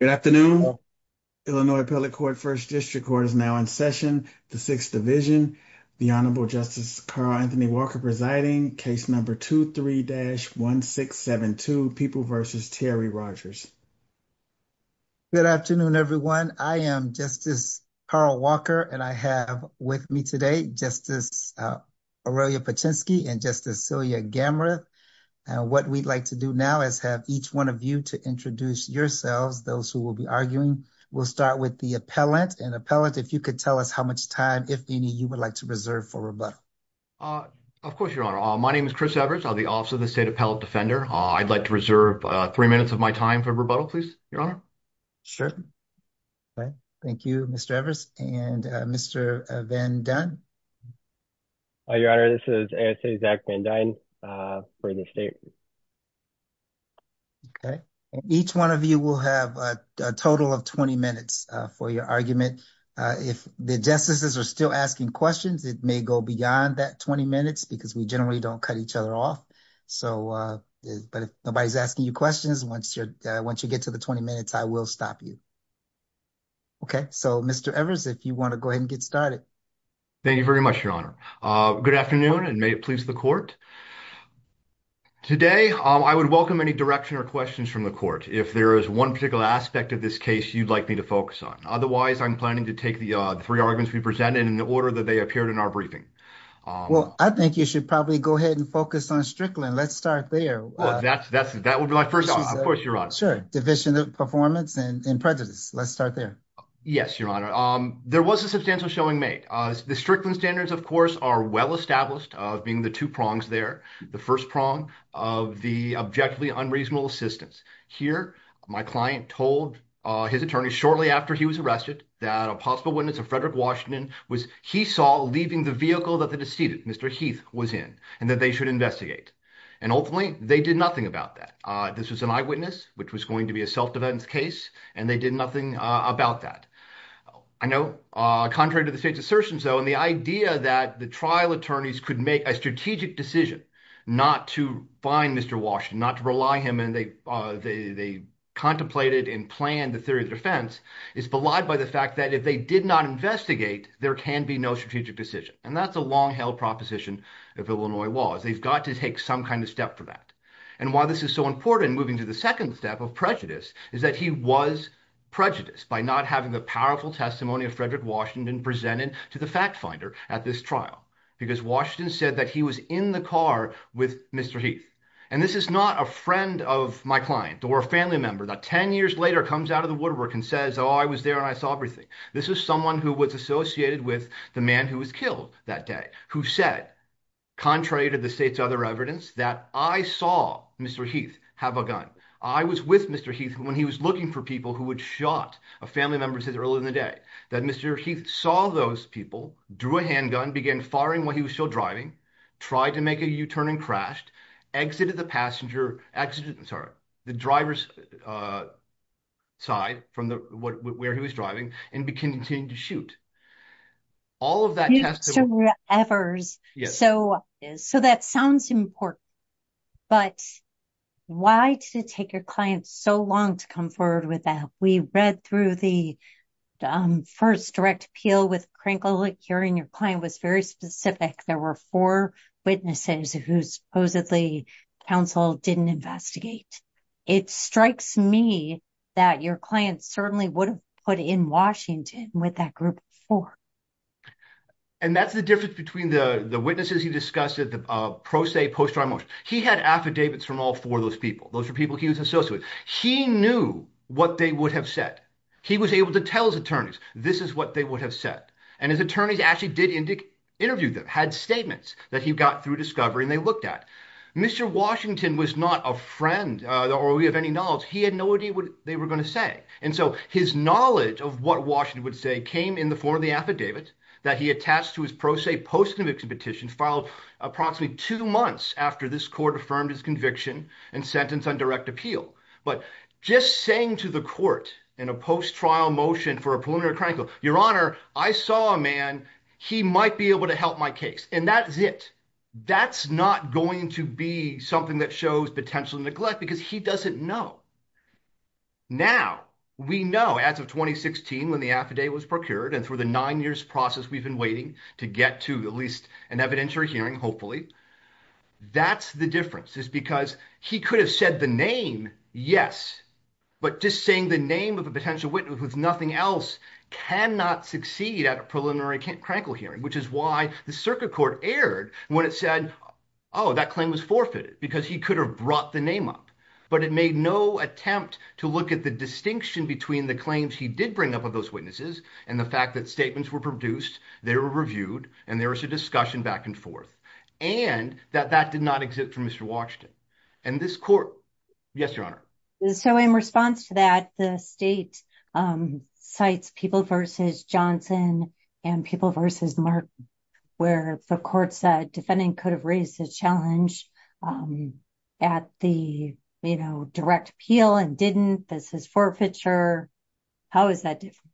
Good afternoon. Illinois Appellate Court First District Court is now in session. The Sixth Division, the Honorable Justice Carl Anthony Walker presiding, case number 23-1672, People v. Terry Rodgers. Good afternoon, everyone. I am Justice Carl Walker, and I have with me today Justice Aurelia Paczynski and Justice Celia Gamreth. What we'd like to do now is have each one of you to introduce yourselves, those who will be arguing. We'll start with the appellant. And appellant, if you could tell us how much time, if any, you would like to reserve for rebuttal. Chris Evers Of course, Your Honor. My name is Chris Evers. I'm the Office of the State Appellate Defender. I'd like to reserve three minutes of my time for rebuttal, please, Your Honor. Rodgers Sure. Thank you, Mr. Evers. And Mr. Van Dunn? Zach Van Dunn Hi, Your Honor. This is Zach Van Dunn for the state. Rodgers Okay. Each one of you will have a total of 20 minutes for your argument. If the justices are still asking questions, it may go beyond that 20 minutes because we generally don't cut each other off. But if nobody's asking you questions, once you get to the 20 minutes, I will stop you. Okay. So, Mr. Evers, if you want to go ahead and get started. Evers Thank you very much, Your Honor. Good afternoon, and may it please the court. Today, I would welcome any direction or questions from the court if there is one particular aspect of this case you'd like me to focus on. Otherwise, I'm planning to take the three arguments we presented in the order that they appeared in our briefing. Rodgers Well, I think you should probably go ahead and focus on Strickland. Let's start there. Evers Well, that would be my first thought. Of course, Your Honor. Rodgers Sure. Division of Performance and Prejudice. Let's start there. Evers Yes, Your Honor. There was a substantial showing made. The Strickland standards, of course, are well established of being the two prongs there. The first prong of the objectively unreasonable assistance. Here, my client told his attorney shortly after he was arrested that a possible witness of Frederick Washington was he saw leaving the vehicle that the deceited Mr. Heath was in and that they should investigate. And ultimately, they did nothing about that. This was an eyewitness, which was going to be a self-defense case, and they did nothing about that. I know, contrary to the state's assertions, though, the idea that the trial attorneys could make a strategic decision not to find Mr. Washington, not to rely on him, and they contemplated and planned the theory of defense is belied by the fact that if they did not investigate, there can be no strategic decision. And that's a long-held proposition of Illinois laws. They've got to take some kind of step for that. And why this is so important, moving to the second step of prejudice, is that he was prejudiced by not having the powerful testimony of Frederick Washington presented to the fact finder at this trial, because Washington said that he was in the car with Mr. Heath. And this is not a friend of my client or a family member that 10 years later comes out of the woodwork and says, oh, I was there and I saw everything. This is someone who was associated with the man who was killed that day, who said, contrary to the state's other evidence, that I saw Mr. Heath have a gun. I was with Mr. Heath when he was looking for people who had shot a family member earlier in the day, that Mr. Heath saw those people, drew a handgun, began firing while he was still driving, tried to make a U-turn and crashed, exited the passenger, exited, sorry, the driver's side from where he was driving and continued to shoot. All of that. Efforts. So that sounds important, but why did it take your client so long to come forward with that? We read through the first direct appeal with Crankle, hearing your client was very specific. There were four witnesses who supposedly counsel didn't investigate. It strikes me that your client certainly would have put in Washington with that group of four. And that's the difference between the witnesses you discussed at the pro se post-trial motion. He had affidavits from all four of those people. Those are people he was associated with. He knew what they would have said. He was able to tell his attorneys, this is what they would have said. And his attorneys actually did interview them, had statements that he got through discovery and they looked at. Mr. Washington was not a friend or we have any knowledge. He had no idea what they were going to say. And so his knowledge of what Washington would say came in the form of the affidavit that he attached to his pro se post-conviction petition filed approximately two months after this court affirmed his conviction and sentenced on direct appeal. But just saying to the court in a post-trial motion for a preliminary crankle, your honor, I saw a man, he might be able to help my case. And that's it. That's not going to be something that shows potential neglect because he doesn't know. Now, we know as of 2016, when the affidavit was procured and through the nine years process, we've been waiting to get to at least an evidentiary hearing. Hopefully that's the difference is because he could have said the name. Yes. But just saying the name of potential witness with nothing else cannot succeed at a preliminary crankle hearing, which is why the circuit court aired when it said, oh, that claim was forfeited because he could have brought the name up, but it made no attempt to look at the distinction between the claims he did bring up of those witnesses. And the fact that statements were produced, they were reviewed, and there was a discussion back and forth and that that did not exist for Mr. Washington and this court. Yes, your honor. So in response to that, the state cites people versus Johnson and people versus Mark, where the court said defending could have raised the challenge at the, you know, direct appeal and didn't, this is forfeiture. How is that different?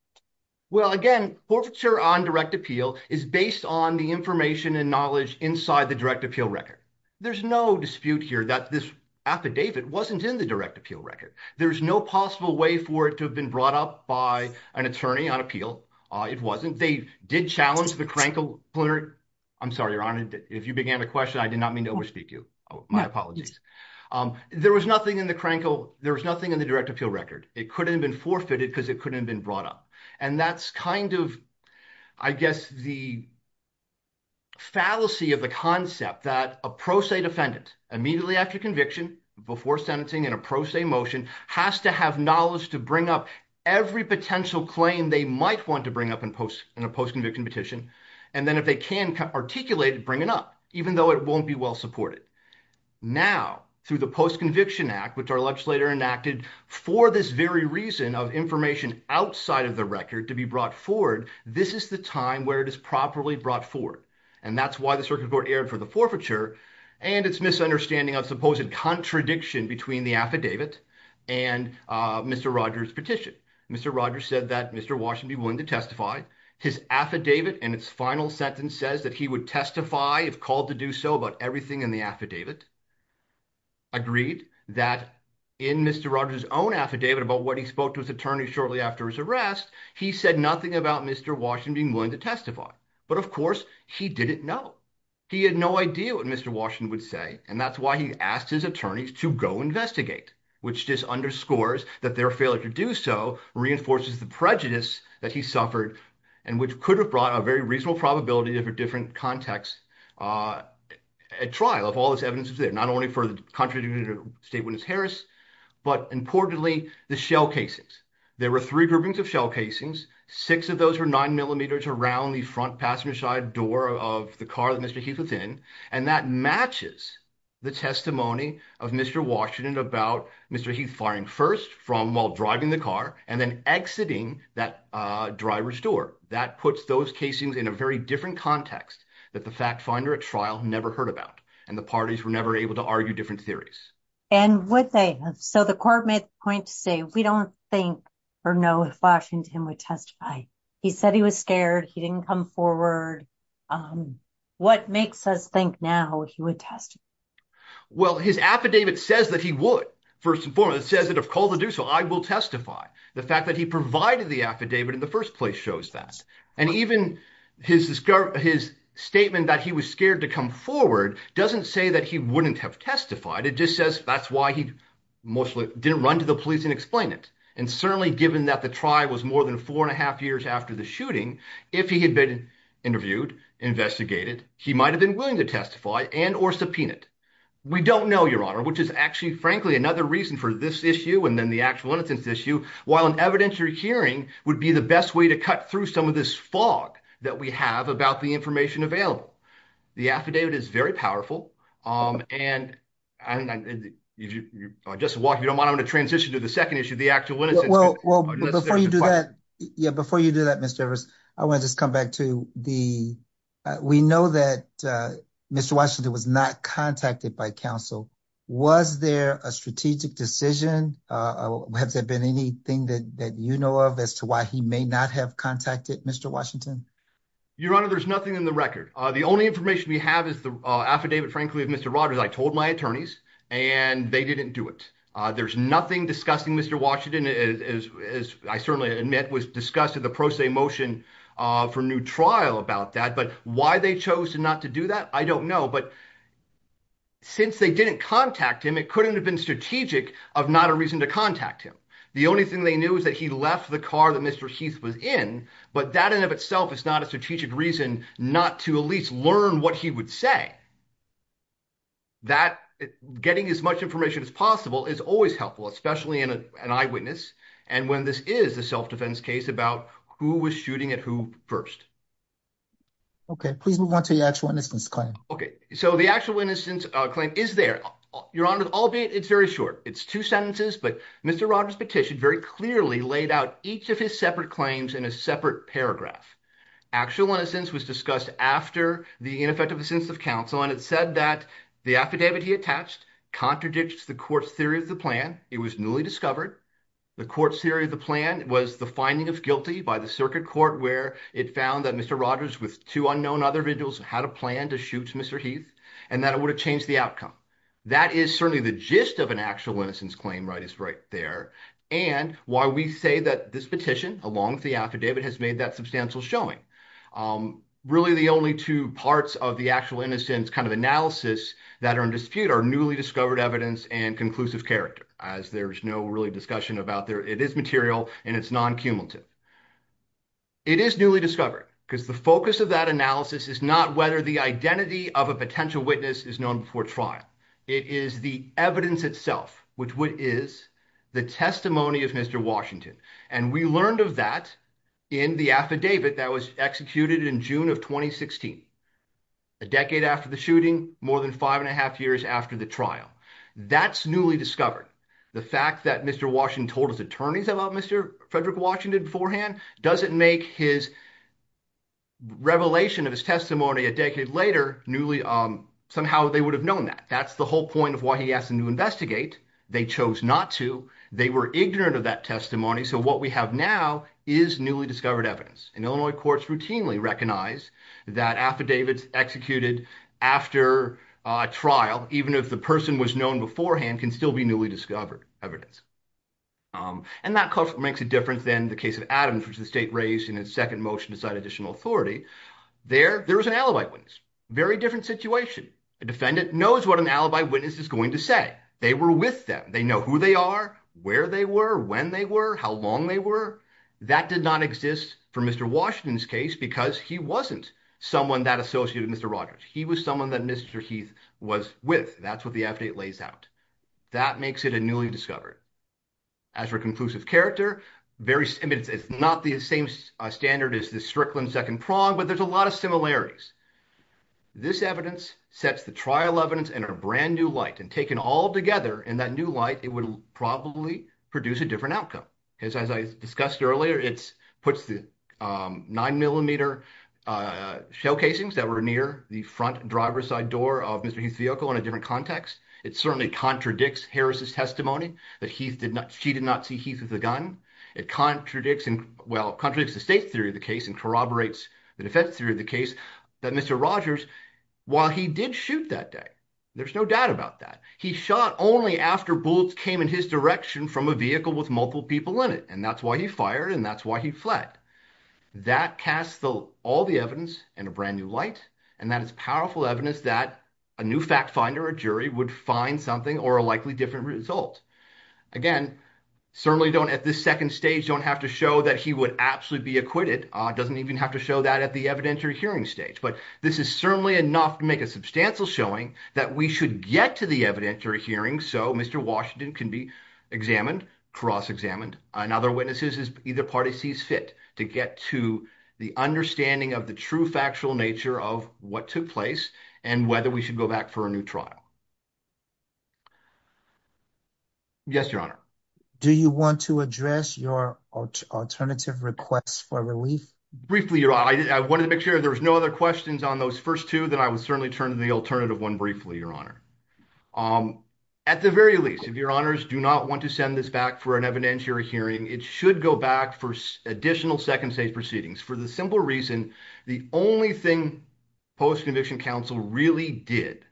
Well, again, forfeiture on direct appeal is based on the information and knowledge inside the direct appeal record. There's no dispute here that this affidavit wasn't in the direct appeal record. There's no possible way for it to have been brought up by an attorney on appeal. It wasn't. They did challenge the crankle. I'm sorry, your honor. If you began the question, I did not mean to overspeak you. My apologies. There was nothing in the crankle. There was nothing in the direct appeal record. It could have been forfeited because it couldn't have been brought up. And that's kind of, I guess, the fallacy of the concept that a pro se defendant immediately after conviction before sentencing in a pro se motion has to have knowledge to bring up every potential claim they might want to bring up in post, in a post-conviction petition. And then if they can articulate it, bring it up, even though it won't be well supported. Now, through the post-conviction act, which our legislator enacted for this very reason of information outside of the record to be brought forward, this is the time where it is properly brought forward. And that's why the circuit court erred for the forfeiture and its misunderstanding of supposed contradiction between the affidavit and Mr. Rogers' petition. Mr. Rogers said that Mr. Washington be willing to testify. His affidavit and its final sentence says that he would testify if called to do so about everything in the affidavit. Agreed that in Mr. Rogers' own affidavit about what he spoke to his attorney shortly after his arrest, he said nothing about Mr. Washington being willing to testify. But of course, he didn't know. He had no idea what Mr. Washington would say. And that's why he asked his attorneys to go investigate, which just underscores that their failure to do so reinforces the prejudice that he suffered and which could have brought a very reasonable probability of a different context at trial if all this evidence is there, not only for the contradiction of State Witness Harris, but importantly, the shell casings. There were three groupings of shell casings. Six of those were nine millimeters around the front passenger side door of the car that Mr. Heath was in. And that matches the testimony of Mr. Washington about Mr. Heath firing first from while driving the car and then exiting that driver's door. That puts those casings in a very different context that the fact finder at trial never heard about, and the parties were never able to argue different theories. And would they? So the court made the point to say we don't think or know if Washington would testify. He said he was scared. He didn't come forward. What makes us think now he would testify? Well, his affidavit says that he would. First and foremost, it says that if called to do so, I will testify. The fact that he provided the affidavit in the first place shows that. And even his statement that he was scared to come forward doesn't say that he wouldn't have testified. It just says that's why he mostly didn't run to the police and explain it. And certainly given that the trial was more than four and a half years after the shooting, if he had been interviewed, investigated, he might have been willing to testify and or subpoena it. We don't know, Your Honor, which is actually, frankly, another reason for this issue and then the actual innocence issue. While an evidentiary hearing would be the best way to cut through some of this fog that we have about the information available, the affidavit is very powerful. And if you don't mind, I'm going to transition to the second issue, the actual innocence. Well, before you do that, Mr. Evers, I want to just come back to the, we know that Mr. Washington was not contacted by counsel. Was there a strategic decision? Has there been anything that you know of as to why he may not have contacted Mr. Washington? Your Honor, there's nothing in the record. The only information we have is the affidavit, frankly, of Mr. Rogers. I told my attorneys and they didn't do it. There's nothing discussing Mr. Washington, as I certainly admit, was discussed at the pro se motion for new trial about that. But why they chose not to do that, I don't know. But since they didn't contact him, it couldn't have been strategic of not a reason to contact him. The only thing they knew is that he left the car that Mr. Heath was in, but that in and of itself is not a strategic reason not to at least learn what he would say. That getting as much information as possible is always helpful, especially in an eyewitness, and when this is a self-defense case about who was shooting at who first. Okay, please move on to the actual innocence claim. Okay, so the actual innocence claim is there. Your Honor, albeit it's very short. It's two sentences, but Mr. Rogers' petition very clearly laid out each of his separate claims in a separate paragraph. Actual innocence was discussed after the ineffective assistance of counsel, and it said that the affidavit he attached contradicted the court's theory of the plan. It was newly discovered. The court's theory of the plan was the finding of guilty by the circuit court where it found that Mr. Rogers, with two unknown other individuals, had a plan to shoot Mr. Heath, and that it would have changed the outcome. That is certainly the gist of an actual innocence claim, right? It's right there, and why we say that this petition, along with the affidavit, has made that substantial showing. Really, the only two parts of the actual innocence kind of analysis that are in dispute are newly discovered evidence and conclusive character, as there's no really discussion about there. It is material, and it's non-cumulative. It is newly discovered, because the focus of that analysis is not whether the identity of potential witness is known before trial. It is the evidence itself, which is the testimony of Mr. Washington, and we learned of that in the affidavit that was executed in June of 2016, a decade after the shooting, more than five and a half years after the trial. That's newly discovered. The fact that Mr. Washington told his attorneys about Mr. Frederick Washington beforehand doesn't make his revelation of his testimony a decade later somehow. They would have known that. That's the whole point of why he asked them to investigate. They chose not to. They were ignorant of that testimony, so what we have now is newly discovered evidence. Illinois courts routinely recognize that affidavits executed after a trial, even if the person was known beforehand, can still be newly discovered evidence. That makes a difference in the case of Adams, which the state raised in its second motion to cite additional authority. There was an alibi witness. Very different situation. A defendant knows what an alibi witness is going to say. They were with them. They know who they are, where they were, when they were, how long they were. That did not exist for Mr. Washington's case, because he wasn't someone that associated with Mr. Rogers. He was someone that Mr. Heath was with. That's what the affidavit lays out. That makes it a newly discovered. As for conclusive character, it's not the same standard as the Strickland second prong, but there's a lot of similarities. This evidence sets the trial evidence in a brand new light, and taken all together in that new light, it would probably produce a different outcome, because as I discussed earlier, it puts the nine millimeter shell casings that were near the front driver's side door of Mr. Heath's vehicle in a different context. It certainly contradicts Harris's testimony that she did not see Heath with a gun. It contradicts the state theory of the case and corroborates the defense theory of the case that Mr. Rogers, while he did shoot that day, there's no doubt about that. He shot only after bullets came in his direction from a vehicle with multiple people in it, and that's why he fired, and that's why he fled. That casts all the evidence in a brand new light, and that is powerful evidence that a new fact finder, a jury, would find something or a likely different result. Again, certainly don't, at this second stage, don't have to show that he would absolutely be acquitted. It doesn't even have to show that at the evidentiary hearing stage, but this is certainly enough to make a substantial showing that we should get to the evidentiary hearing so Mr. Washington can be examined, cross-examined, and other witnesses as either party sees fit to get to the understanding of the true factual nature of what took place and whether we should go back for a new trial. Yes, your honor. Do you want to address your alternative requests for relief? Briefly, your honor, I wanted to make sure there was no other questions on those first two, then I would certainly turn to the alternative one briefly, your honor. At the very least, if your honors do not want to send this back for an evidentiary hearing, it should go back for additional second stage proceedings for the simple reason the only thing post-conviction counsel really did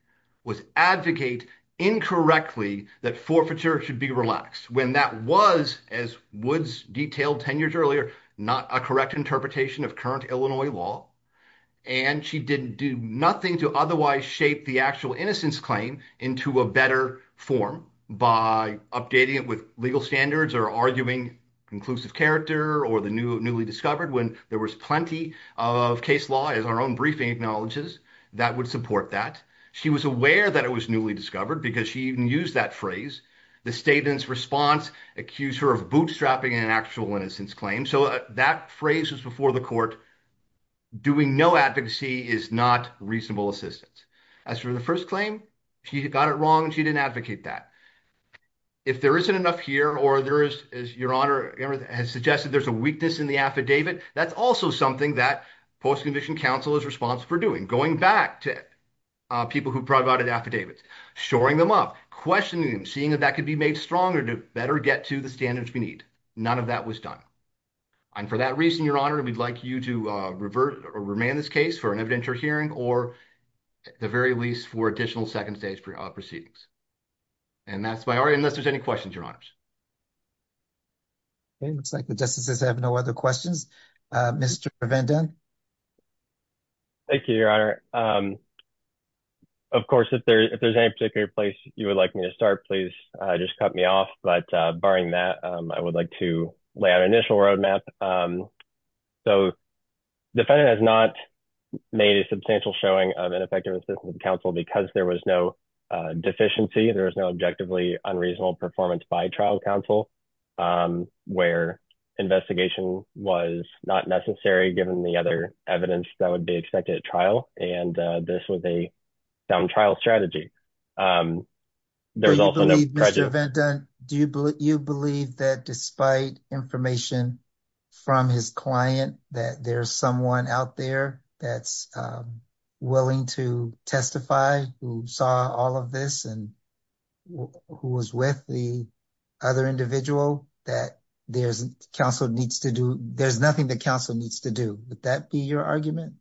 was advocate incorrectly that forfeiture should be relaxed when that was, as Woods detailed 10 years earlier, not a correct interpretation of current Illinois law and she didn't do nothing to otherwise shape the actual innocence claim into a better form by updating it with legal standards or arguing conclusive character or the newly discovered when there was plenty of case law, as our own briefing acknowledges, that would support that. She was aware that it was newly discovered because she even used that phrase. The statement's response accused her of bootstrapping an actual innocence claim so that phrase was before the court, doing no advocacy is not reasonable assistance. As for the first claim, she got it wrong and she didn't advocate that. If there isn't enough here or your honor has suggested there's a weakness in the affidavit, that's also something that post-conviction counsel is responsible for doing, going back to people who provided affidavits, shoring them up, questioning them, seeing if that could be made stronger to better get to the standards we need. None of that was done and for that reason, your honor, we'd like you to remain in this case for an evidentiary hearing or at the very least for additional second stage proceedings. And that's my order, unless there's any questions, your honors. Okay, looks like the justices have no other questions. Mr. Van Den. Thank you, your honor. Of course, if there's any particular place you would like me to start, please just cut me off, but barring that, I would like to lay out an initial roadmap. So defendant has not made a substantial showing of ineffective assistance to counsel because there was no deficiency. There was no objectively unreasonable performance by trial counsel where investigation was not necessary given the other evidence that would be expected at trial. And this was a sound trial strategy. There was also no prejudice. Mr. Van Den, do you believe that despite information from his client that there's one out there that's willing to testify who saw all of this and who was with the other individual that there's nothing that counsel needs to do? Would that be your argument?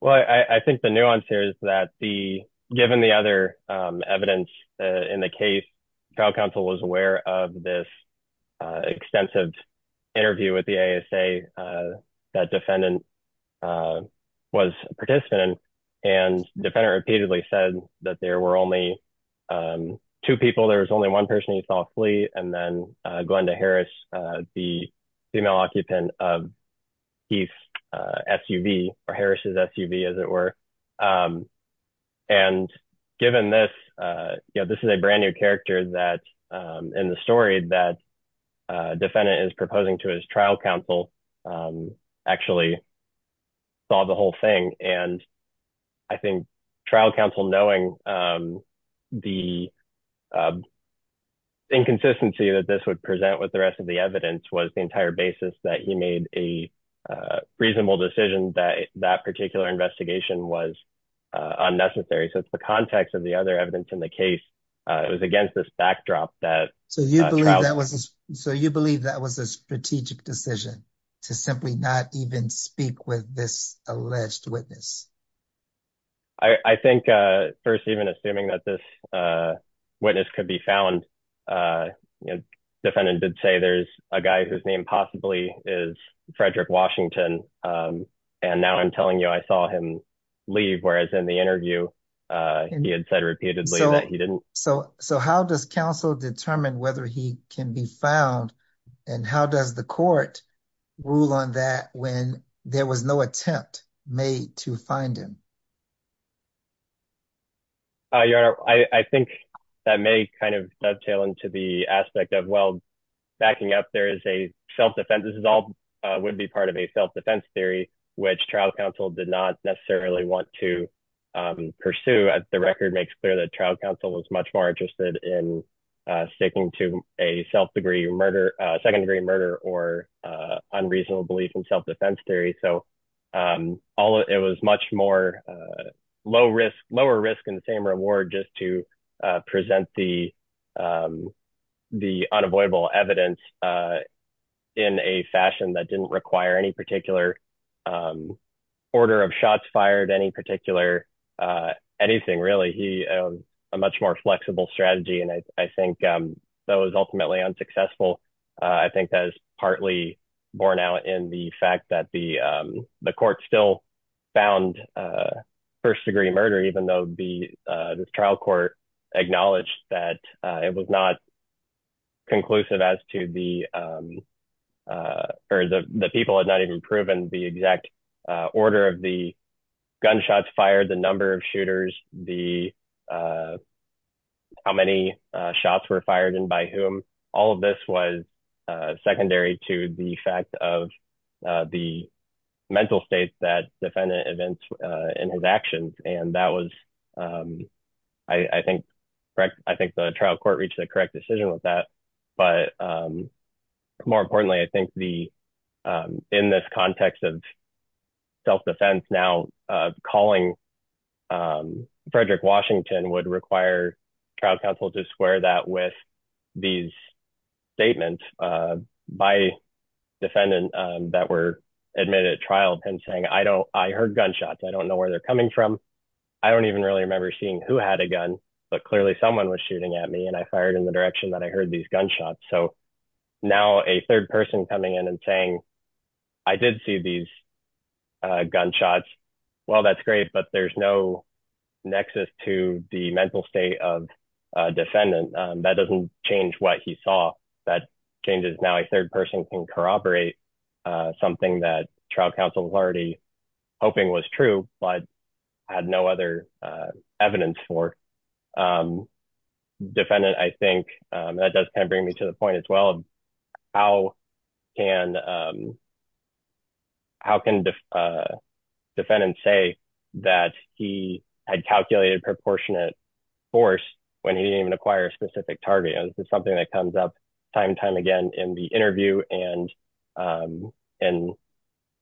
Well, I think the nuance here is that given the other evidence in the case, trial counsel was aware of this extensive interview with the ASA that defendant was a participant and defendant repeatedly said that there were only two people. There was only one person he saw flee, and then Glenda Harris, the female occupant of Heath's SUV or Harris's SUV, as it were. And given this, this is a brand new character that in the story that defendant is proposing to his trial counsel actually saw the whole thing. And I think trial counsel knowing the inconsistency that this would present with the rest of the evidence was the entire basis that he made a reasonable decision that that particular investigation was unnecessary. So it's the context of the other evidence in the case. It was against this backdrop that- So you believe that was a strategic decision to simply not even speak with this alleged witness? I think first, even assuming that this witness could be found, you know, defendant did say there's a guy whose name possibly is Frederick Washington. And now I'm telling you, I saw him leave, whereas in the interview, he had said repeatedly that he didn't. So how does counsel determine whether he can be found? And how does the court rule on that when there was no attempt made to find him? Your Honor, I think that may kind of dovetail into the aspect of, well, backing up there is a self-defense, this would be part of a self-defense theory, which trial counsel did not necessarily want to pursue. The record makes clear that trial counsel was much more interested in sticking to a second degree murder or unreasonable belief in self-defense theory. So it was much more low risk, lower risk and the same reward just to present the unavoidable evidence in a fashion that didn't require any particular order of shots fired, any particular anything really. A much more flexible strategy. And I think that was ultimately unsuccessful. I think that is partly borne out in the fact that the court still found first degree murder, even though the trial court acknowledged that it was not conclusive as to the, or the people had not even proven the exact order of the gunshots fired, the number of shooters, the, how many shots were fired and by whom. All of this was secondary to the fact of the mental state that defendant events in his actions. And that was, I think, I think the trial court reached the correct decision with that. But more importantly, I think the, in this context of self-defense now calling Frederick Washington would require trial counsel to square that with these statements by defendant that were admitted at trial and saying, I don't, I heard gunshots. I don't know where they're coming from. I don't even really remember seeing who had a gun, but clearly someone was shooting at me and I fired in the direction that I heard these gunshots. So now a third person coming in and saying, I did see these gunshots. Well, that's great, but there's no nexus to the mental state of a defendant that doesn't change what he saw that changes. Now a third person can corroborate something that trial counsel was already hoping was true, but had no other evidence for. Defendant, I think that does kind of bring me to the point as well. How can, how can defendants say that he had calculated proportionate force when he didn't even acquire a specific target? And this is something that comes up time and time again in the interview and in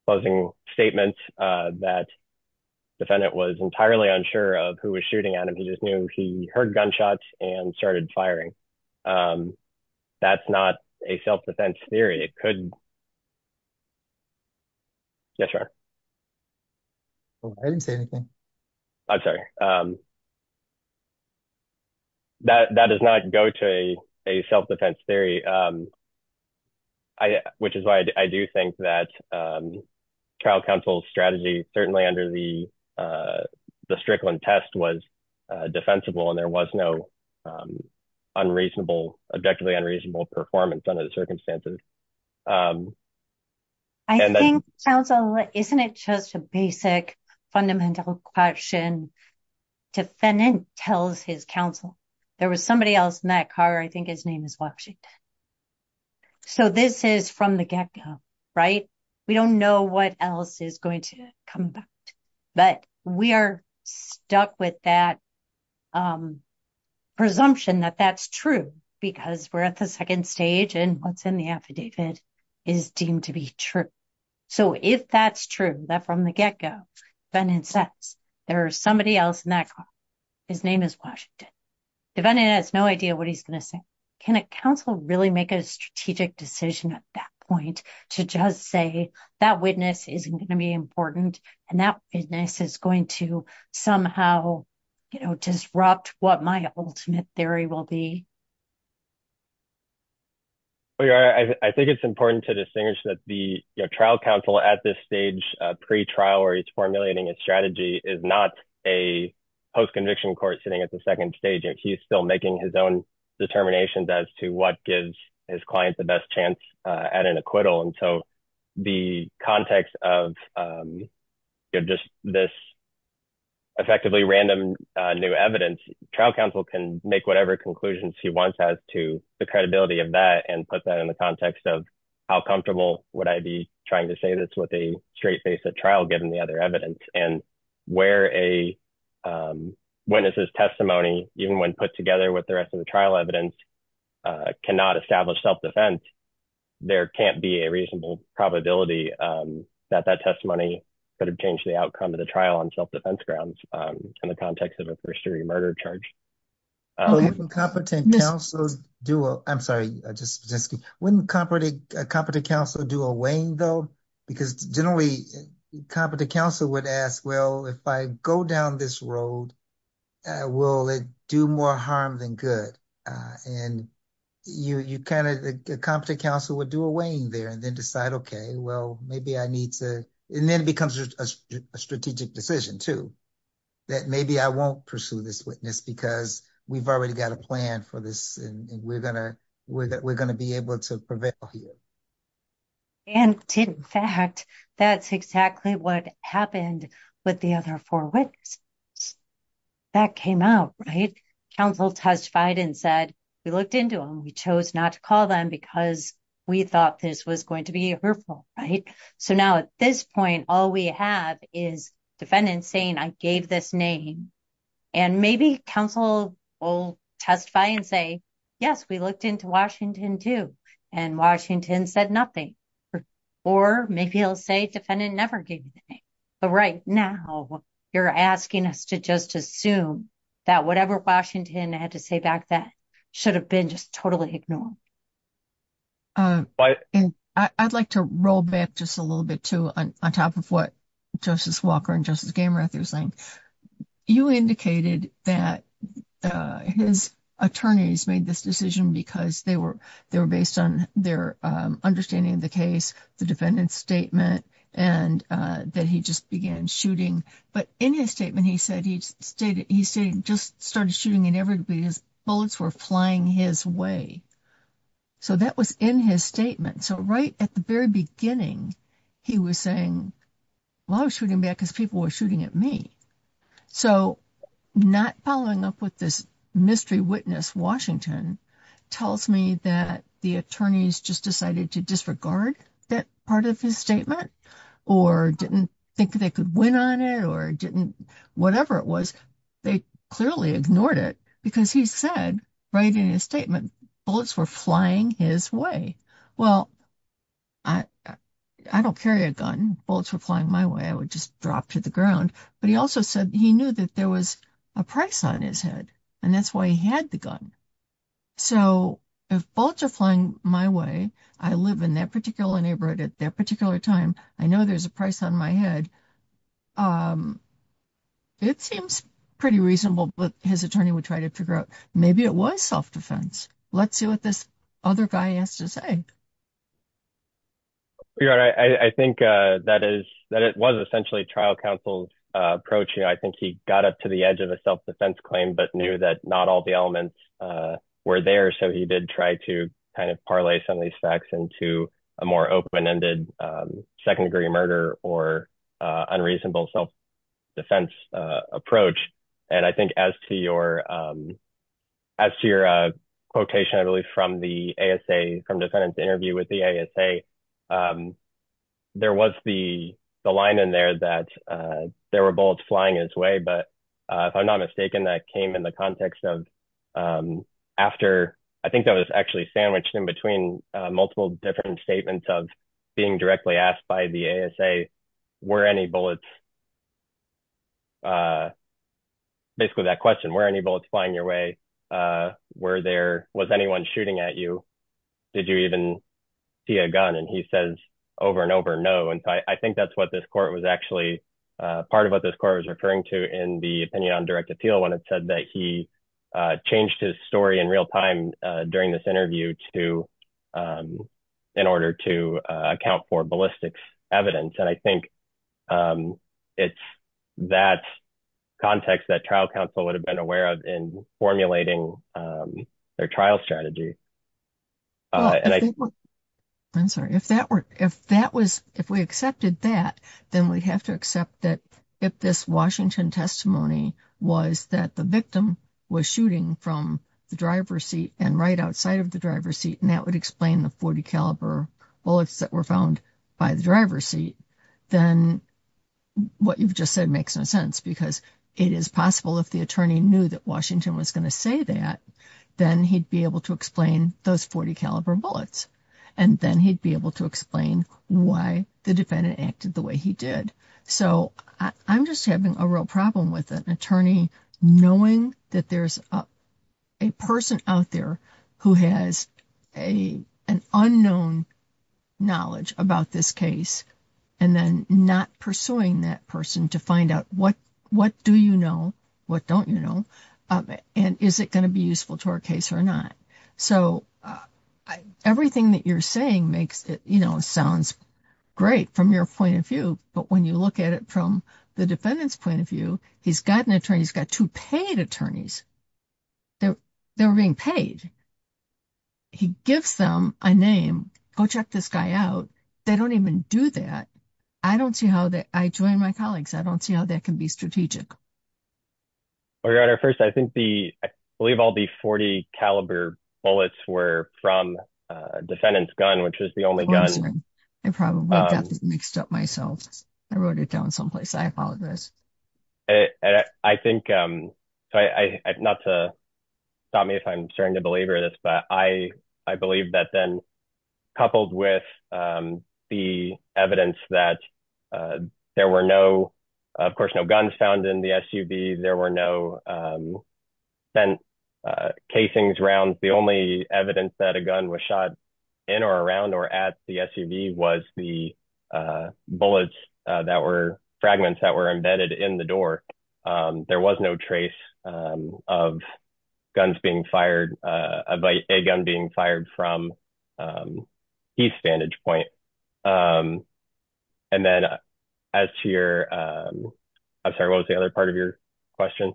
closing statements that defendant was entirely unsure of who was shooting at him. He just knew he heard gunshots and started firing. That's not a self-defense theory. It could, yes, sir. I didn't say anything. I'm sorry. That does not go to a self-defense theory, which is why I do think that trial counsel's strategy certainly under the Strickland test was defensible and there was no unreasonable, objectively unreasonable performance under the circumstances. I think counsel, isn't it just a basic fundamental question? Defendant tells his counsel, there was somebody else in that car. I think his name is Washington. So this is from the get-go, right? We don't know what else is going to come back, but we are stuck with that presumption that that's true because we're at the second stage and what's in the affidavit is deemed to be true. So if that's true, that from the get-go, defendant says, there is somebody else in that car. His name is Washington. Defendant has no idea what he's going to say. Can a counsel really make a strategic decision at that point to just say that witness isn't going to be important and that witness is going to somehow disrupt what my ultimate theory will be? I think it's important to distinguish that the trial counsel at this stage, pre-trial where he's formulating his strategy is not a post-conviction court sitting at the second stage. He's still making his own determinations as to what gives his client the best chance at an acquittal. And so the context of just this effectively random new evidence, trial counsel can make whatever conclusions he wants as to the credibility of that and put that in the context of how comfortable would I be trying to say this with a straight face at trial, given the other evidence and where a witness's testimony, even when put together with the rest of the trial evidence, cannot establish self-defense, there can't be a reasonable probability that that testimony could have changed the outcome of the trial on self-defense grounds in the context of a first-degree murder charge. Wouldn't competent counsel do a weighing though? Because generally competent counsel would ask, if I go down this road, will it do more harm than good? And a competent counsel would do a weighing there and then decide, okay, well, maybe I need to... And then it becomes a strategic decision too, that maybe I won't pursue this witness because we've already got a plan for this and we're going to be able to prevail here. And in fact, that's exactly what happened with the other four witnesses. That came out, right? Counsel testified and said, we looked into them. We chose not to call them because we thought this was going to be hurtful. Right? So now at this point, all we have is defendant saying, I gave this name and maybe counsel will testify and say, yes, we looked into Washington too. And Washington said nothing. Or maybe he'll say defendant never gave a name. But right now you're asking us to just assume that whatever Washington had to say back then should have been just totally ignored. I'd like to roll back just a little bit too on top of what Justice Walker and Justice Gamerath are saying. You indicated that his attorneys made this decision because they were based on their understanding of the case, the defendant's statement, and that he just began shooting. But in his statement, he said he just started shooting at everybody. His bullets were flying his way. So that was in his statement. So right at the very beginning, he was saying, well, I was shooting back because people were shooting at me. So not following up with this witness, Washington tells me that the attorneys just decided to disregard that part of his statement or didn't think they could win on it or didn't whatever it was. They clearly ignored it because he said right in his statement, bullets were flying his way. Well, I don't carry a gun. Bullets were flying my way. I would just drop to the ground. But he also said he knew that there was a price on his head, and that's why he had the gun. So if bullets are flying my way, I live in that particular neighborhood at that particular time. I know there's a price on my head. It seems pretty reasonable, but his attorney would try to figure out maybe it was self-defense. Let's see what this other guy has to say. You're right. I think that it was essentially trial counsel's approach. I think he got up to the edge of a self-defense claim but knew that not all the elements were there. So he did try to kind of parlay some of these facts into a more open-ended, second-degree murder or unreasonable self-defense approach. And I think as to your quotation, I believe, from the ASA, from defendant's interview with the ASA, there was the line in there that there were bullets flying his way. But if I'm not mistaken, that came in the context of after, I think that was actually sandwiched in between multiple different statements of being directly asked by the ASA, were any bullets, basically that question, were any bullets flying your way? Were there, was anyone shooting at you? Did you even see a gun? And he says over and over, no. And so I think that's what this court was actually, part of what this court was referring to in the opinion on direct appeal when it said that he changed his story in real time during this interview in order to account for ballistics evidence. And I think it's that context that trial counsel would have been aware of in formulating their trial strategy. I'm sorry, if that were, if that was, if we accepted that, then we'd have to accept that if this Washington testimony was that the victim was shooting from the driver's seat and right outside of the driver's seat, and that would explain the .40 caliber bullets that were found by the driver's seat, then what you've just said makes no sense because it is possible if the attorney knew that Washington was going to say that, then he'd be able to explain those .40 caliber bullets. And then he'd be able to explain why the defendant acted the way he did. So I'm just having a real problem with an attorney knowing that there's a person out there who has a, an unknown knowledge about this case and then not pursuing that person to find out what, what do you know, what don't you know, and is it going to be useful to our case or not? So everything that you're saying makes it, you know, sounds great from your point of view, but when you look at it from the defendant's point of view, he's got an attorney, he's got two paid attorneys. They're, they're being paid. He gives them a name, go check this guy out. They don't even do that. I don't see how that, I join my colleagues, I don't see how that can be strategic. Well, Your Honor, first, I think the, I believe all the .40 caliber bullets were from a defendant's gun, which was the only gun. I probably got this mixed up myself. I wrote it down someplace. I not to stop me if I'm starting to belabor this, but I, I believe that then coupled with the evidence that there were no, of course, no guns found in the SUV. There were no bent casings around. The only evidence that a gun was shot in or around or at the SUV was the bullets that were fragments that were embedded in the door. There was no trace of guns being fired, of a gun being fired from his vantage point. And then as to your, I'm sorry, what was the other part of your question?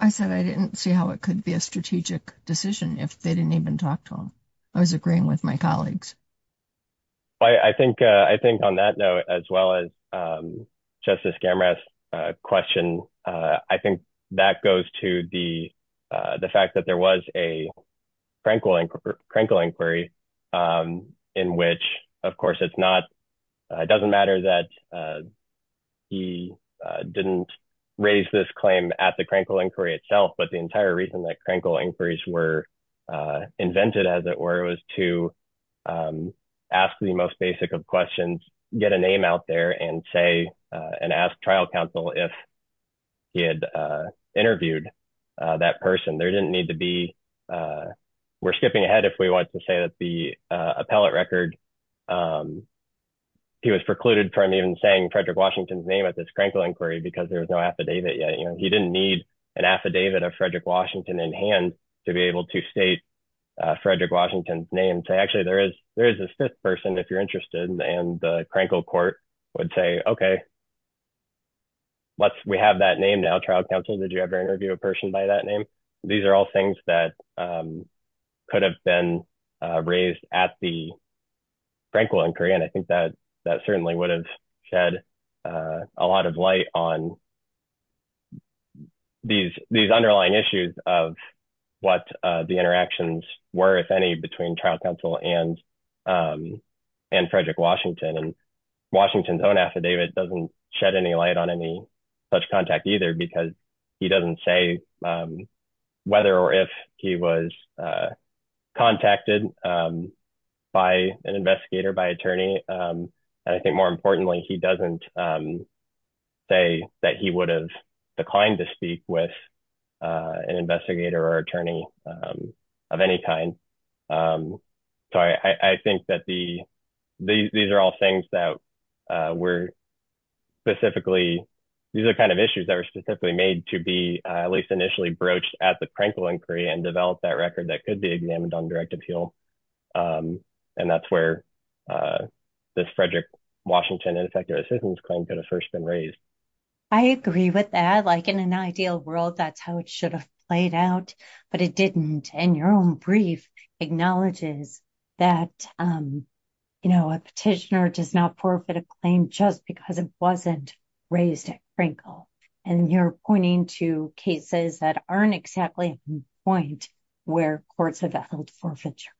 I said, I didn't see how it could be a strategic decision if they didn't talk to him. I was agreeing with my colleagues. Well, I think, I think on that note, as well as Justice Gamera's question, I think that goes to the, the fact that there was a Crankle inquiry in which, of course, it's not, it doesn't matter that he didn't raise this claim at the Crankle inquiry itself, but the entire reason that Crankle inquiries were invented as it were, it was to ask the most basic of questions, get a name out there and say, and ask trial counsel if he had interviewed that person. There didn't need to be, we're skipping ahead if we want to say that the appellate record, he was precluded from even saying Frederick Washington's name at this Crankle inquiry because there was no affidavit yet. You didn't need an affidavit of Frederick Washington in hand to be able to state Frederick Washington's name. So actually there is, there is a fifth person if you're interested and the Crankle court would say, okay, let's, we have that name now, trial counsel, did you ever interview a person by that name? These are all things that could have been raised at the Crankle inquiry. And I think that that certainly would have shed a lot of light on these, these underlying issues of what the interactions were, if any, between trial counsel and, and Frederick Washington. And Washington's own affidavit doesn't shed any light on any such contact either, because he doesn't say whether or if he was contacted by an investigator, by attorney. And I think more importantly, he doesn't say that he would have declined to speak with an investigator or attorney of any kind. So I think that the, these are all things that were specifically, these are kind of issues that were specifically made to be at least initially broached at the Crankle inquiry and develop that record that could be examined on direct appeal. And that's where this Frederick Washington ineffective assistance claim could have first been raised. I agree with that. Like in an ideal world, that's how it should have played out, but it didn't. And your own brief acknowledges that, you know, a petitioner does not forfeit a claim just because it wasn't raised at Crankle. And you're pointing to cases that aren't exactly at the point where courts have held forfeiture.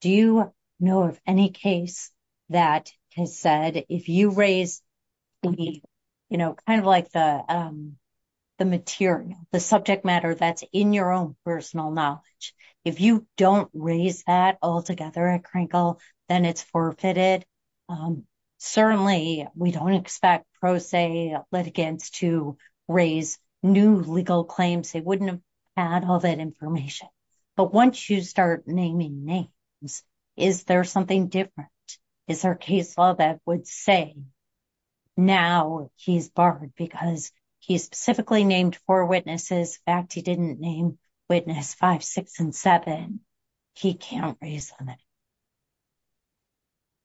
Do you know of any case that has said, if you raise the, you know, kind of like the, the material, the subject matter that's in your own personal knowledge, if you don't raise that altogether at Crankle, then it's forfeited. Um, certainly we don't expect pro se litigants to raise new legal claims. They wouldn't have had all that information, but once you start naming names, is there something different? Is there a case law that would say now he's barred because he specifically named four witnesses back. He didn't name witness five, six, and seven. He can't raise on it.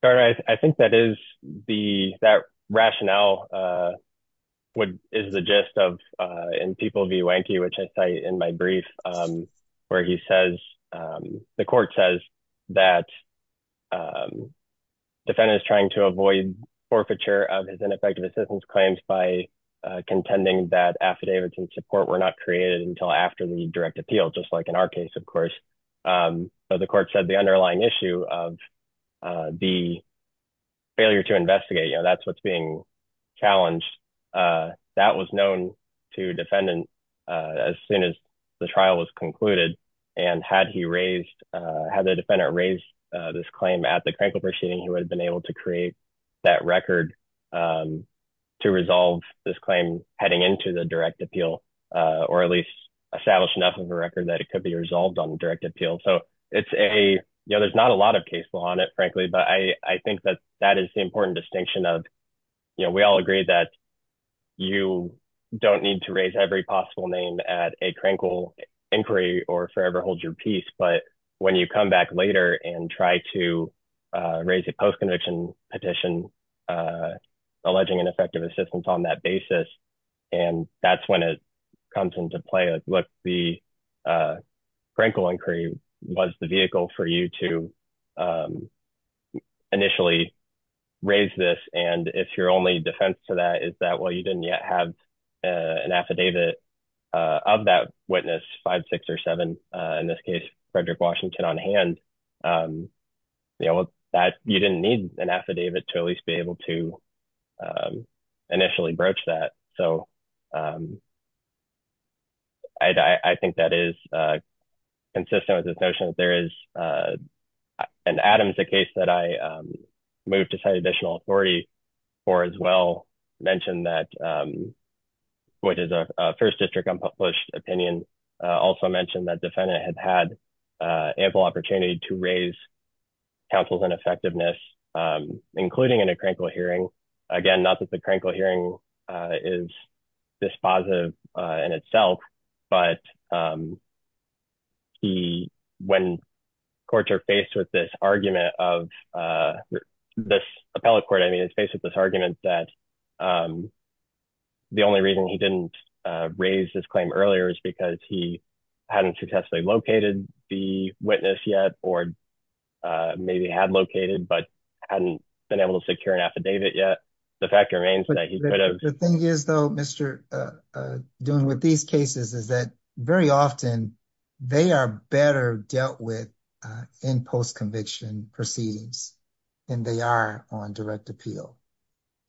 All right. I think that is the, that rationale, uh, would, is the gist of, uh, in people view Yankee, which I say in my brief, um, where he says, um, the court says that, um, defendant is trying to avoid forfeiture of his ineffective assistance claims by, uh, contending that affidavits and support were not created until after the direct appeal, just like in our case, of course. Um, but the court said the underlying issue of, uh, the failure to investigate, you know, that's, what's being challenged. Uh, that was known to defendant, uh, as soon as the trial was concluded and had he raised, uh, had the defendant raised, uh, this claim at the direct appeal, uh, or at least establish enough of a record that it could be resolved on direct appeal. So it's a, you know, there's not a lot of case law on it, frankly, but I, I think that that is the important distinction of, you know, we all agree that you don't need to raise every possible name at a crankle inquiry or forever holds your peace. But when you come back later and try to, uh, raise a post-conviction petition, uh, alleging ineffective assistance on that basis and that's when it comes into play, look, the, uh, crankle inquiry was the vehicle for you to, um, initially raise this. And if your only defense to that is that, well, you didn't yet have, uh, an affidavit, uh, of that witness five, six or seven, uh, in this case, Frederick Washington on hand, um, you know, that you didn't need an affidavit to at least be able to, um, initially broach that. So, um, I, I think that is, uh, consistent with this notion that there is, uh, an Adams, the case that I, um, moved to cite additional authority for as well mentioned that, um, which is a first district unpublished opinion, uh, also mentioned that defendant had had, uh, ample opportunity to raise councils and effectiveness, um, including in a crankle hearing. Again, not that the crankle hearing, uh, is this positive, uh, in itself, but, um, he, when courts are faced with this argument of, uh, this appellate court, I mean, it's based with this argument that, um, the only reason he didn't, uh, raise this claim earlier is because he hadn't successfully located the witness yet, or, uh, maybe had located, but hadn't been able to yet. The fact remains that he could have. The thing is though, Mr., uh, uh, doing with these cases is that very often they are better dealt with, uh, in post-conviction proceedings than they are on direct appeal.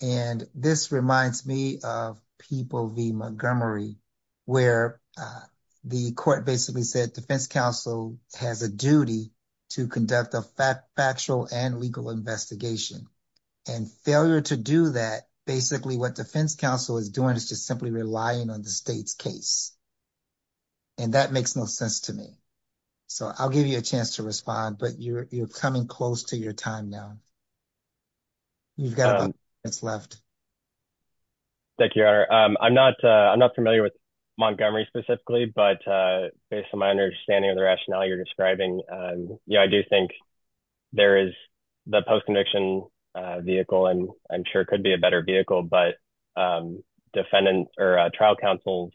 And this reminds me of People v. Montgomery, where, uh, the court basically said defense counsel has a duty to conduct a fact, factual and legal investigation and failure to do that, basically what defense counsel is doing is just simply relying on the state's case. And that makes no sense to me. So, I'll give you a chance to respond, but you're, you're coming close to your time now. You've got a few minutes left. Thank you, Your Honor. Um, I'm not, uh, I'm not familiar with Montgomery specifically, but, uh, based on my understanding of the rationale you're describing, um, you know, I do think there is the post-conviction, uh, vehicle and I'm sure it could be a better vehicle, but, um, defendant or, uh, trial counsel's,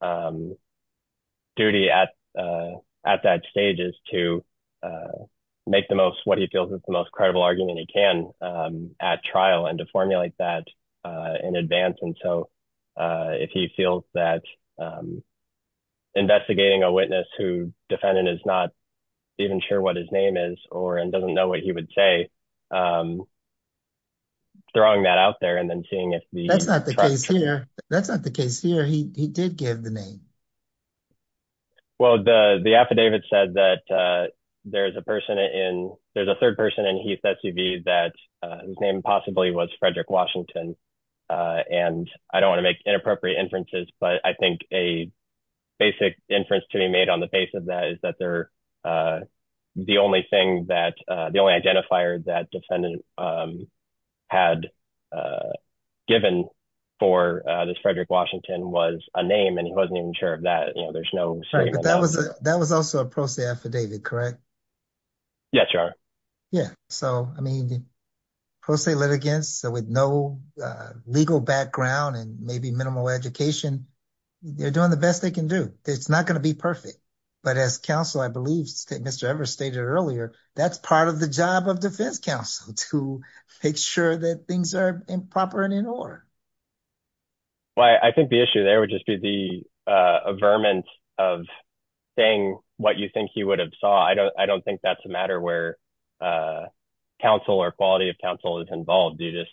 um, duty at, uh, at that stage is to, uh, make the most, what he feels is the most credible argument he can, um, at trial and to formulate that, uh, in advance. And so, uh, if he feels that, um, investigating a witness who defendant is not even sure what his name is or, and doesn't know what he would say, um, throwing that out there and then seeing if the... That's not the case here. That's not the case here. He, he did give the name. Well, the, the affidavit said that, uh, there's a person in, there's a third person in Heath SUV that, uh, whose name possibly was Frederick Washington, uh, and I don't want to make inappropriate inferences, but I think a basic inference to be made on the face of that is that they're, uh, the only thing that, uh, the only identifier that defendant, um, had, uh, given for, uh, this Frederick Washington was a name and he wasn't even sure of that. You know, there's no... Right, but that was a, that was also a pro se affidavit, correct? Yes, Your Honor. Yeah. So, I mean, pro se litigants with no, uh, legal background and maybe minimal education, they're doing the best they can do. It's not going to be perfect, but as counsel, I believe Mr. Evers stated earlier, that's part of the job of defense counsel to make sure that things are in proper and in order. Well, I think the issue there would just be the, uh, a vermin of saying what you think he would have saw. I don't, I don't think that's a matter where, uh, counsel or quality of counsel is involved. You just,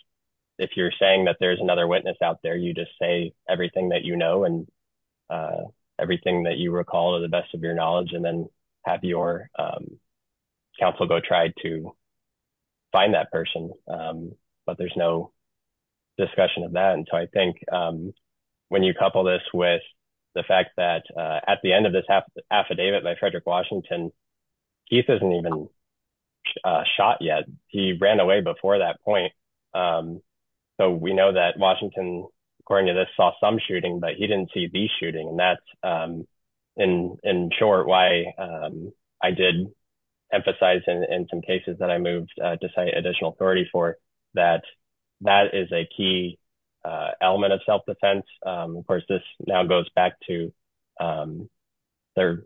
if you're saying that there's another witness out there, you just say everything that you know and, uh, everything that you recall to the best of your knowledge and then have your, um, counsel go try to find that person. Um, but there's no discussion of that. And so I think, um, when you couple this with the fact that, uh, at the end of this affidavit by Frederick Washington, Keith hasn't even, uh, shot yet. He ran away before that point. Um, so we know that Washington, according to this, saw some shooting, but he didn't see the shooting. And that's, um, in, in short why, um, I did emphasize in, in some cases that I moved, uh, to cite additional authority for that, that is a key, uh, element of self-defense. Um, of course, this now goes back to, um, their,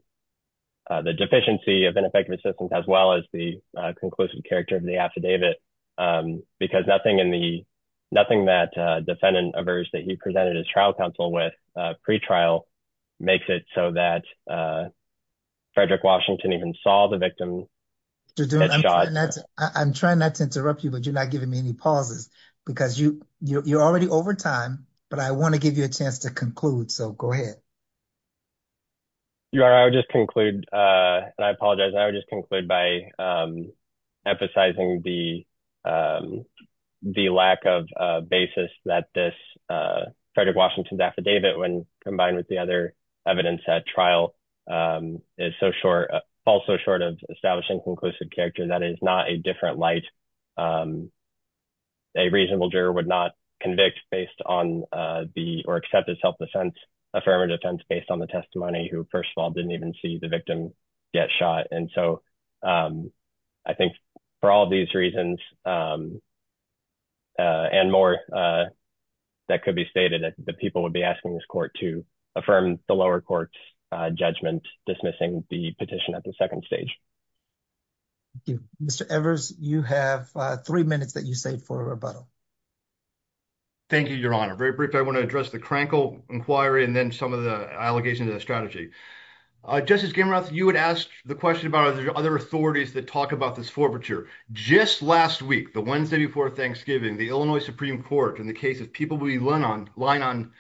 uh, the deficiency of ineffective assistance as well as the, uh, conclusive character of the affidavit. Um, because nothing in the, nothing that, uh, defendant averse that he presented his trial counsel with, uh, pretrial makes it so that, uh, Frederick Washington even saw the victim. I'm trying not to interrupt you, but you're not giving me any pauses because you, you're already over time, but I want to give you a chance to conclude. So go ahead. You are, I would just conclude, uh, and I apologize. I would just conclude by, um, emphasizing the, um, the lack of, uh, basis that this, uh, Frederick Washington's affidavit when combined with the other evidence at trial, um, is so short, also short of establishing conclusive character that is not a different light. Um, a reasonable juror would not convict based on, uh, the, or accept his self-defense affirmative defense based on the testimony who first of all, didn't even see the victim get shot. And so, um, I think for all of these reasons, um, uh, and more, uh, that could be stated that the people would be asking this court to affirm the lower courts, uh, judgment, dismissing the petition at the second stage. Mr. Evers, you have three minutes that you say for a rebuttal. Thank you, your honor. Very brief. I want to address the crankle inquiry and then some of the allegations of the strategy. Uh, Justice Gimroth, you had asked the question about, are there other authorities that talk about this forfeiture? Just last week, the Wednesday before Thanksgiving, the Illinois Supreme Court in the case of people we learn on, line on,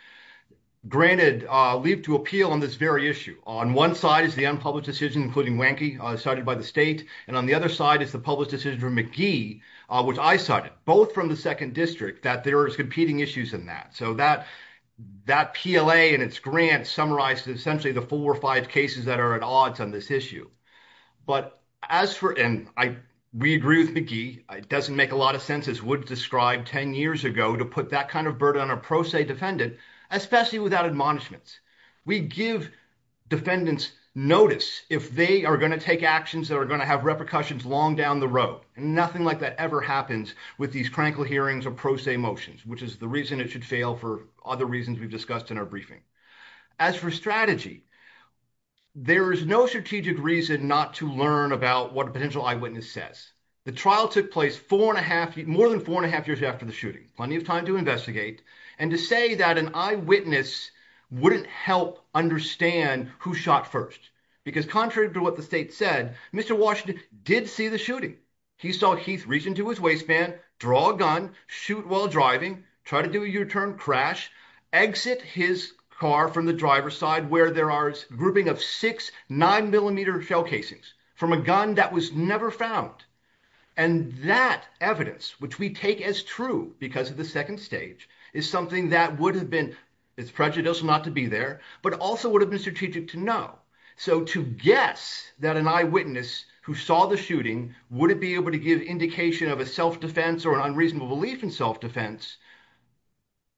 granted, uh, leave to appeal on this very issue. On one side is the unpublished decision, including Wanky, uh, cited by the state. And on the other side is the public decision for McGee, uh, which I cited, both from the second district, that there is competing issues in that. So that, that PLA and its grant summarizes essentially the four or five cases that are at odds on this issue. But as for, and I, we agree with McGee, it doesn't make a lot of sense as Wood described 10 years ago to put that kind of burden on a pro se defendant, especially without admonishments. We give defendants notice if they are going to take actions that are going to have repercussions long down the road. And nothing like that ever happens with these crankle hearings or pro se motions, which is the reason it should fail for other reasons we've discussed in our briefing. As for strategy, there is no strategic reason not to learn about what a potential eyewitness says. The trial took place four and a half, more than four and a half years after the shooting, plenty of time to investigate and to say that an eyewitness wouldn't help understand who shot first because contrary to what the state said, Mr. Washington did see the shooting. He saw Heath reach into his waistband, draw a gun, shoot while driving, try to do a U-turn crash, exit his car from the driver's side where there are grouping of six nine millimeter shell casings from a gun that was never found. And that evidence, which we take as true because of the second stage is something that would have been, it's prejudicial not to be there, but also would have been strategic to know. So to guess that an eyewitness who saw the shooting wouldn't be able to give indication of a self-defense or an unreasonable belief in self-defense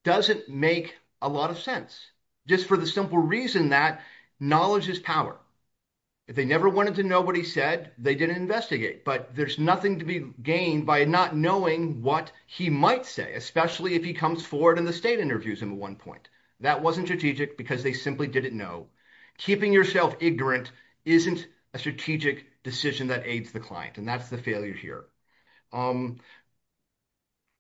doesn't make a lot of sense, just for the simple reason that knowledge is power. If they never wanted to know what he said, they didn't investigate, but there's nothing to be gained by not knowing what he might say, especially if he comes forward in the state interviews at one point. That wasn't strategic because they simply didn't know. Keeping yourself ignorant isn't a strategic decision that aids the client. And that's the failure here.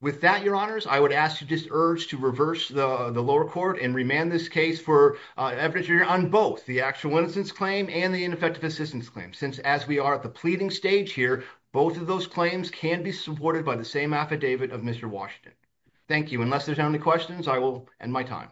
With that, your honors, I would ask you just urge to reverse the lower court and remand this case for evidence on both the actual innocence claim and the ineffective assistance claim. Since as we are at the pleading stage here, both of those claims can be supported by the same affidavit of Mr. Washington. Thank you. Unless there's any questions, I will end my time.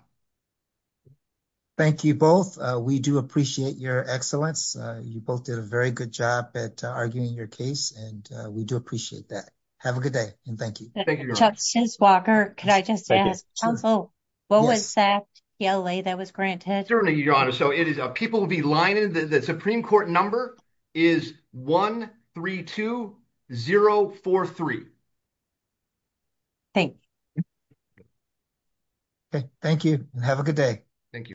Thank you both. We do appreciate your excellence. You both did a very good job at arguing your case, and we do appreciate that. Have a good day, and thank you. Thank you. Justice Walker, could I just ask, counsel, what was that TLA that was granted? Certainly, your honor. So it is, people will be lining, the Supreme Court number is 132043. Thank you. Thank you. Have a good day. Thank you.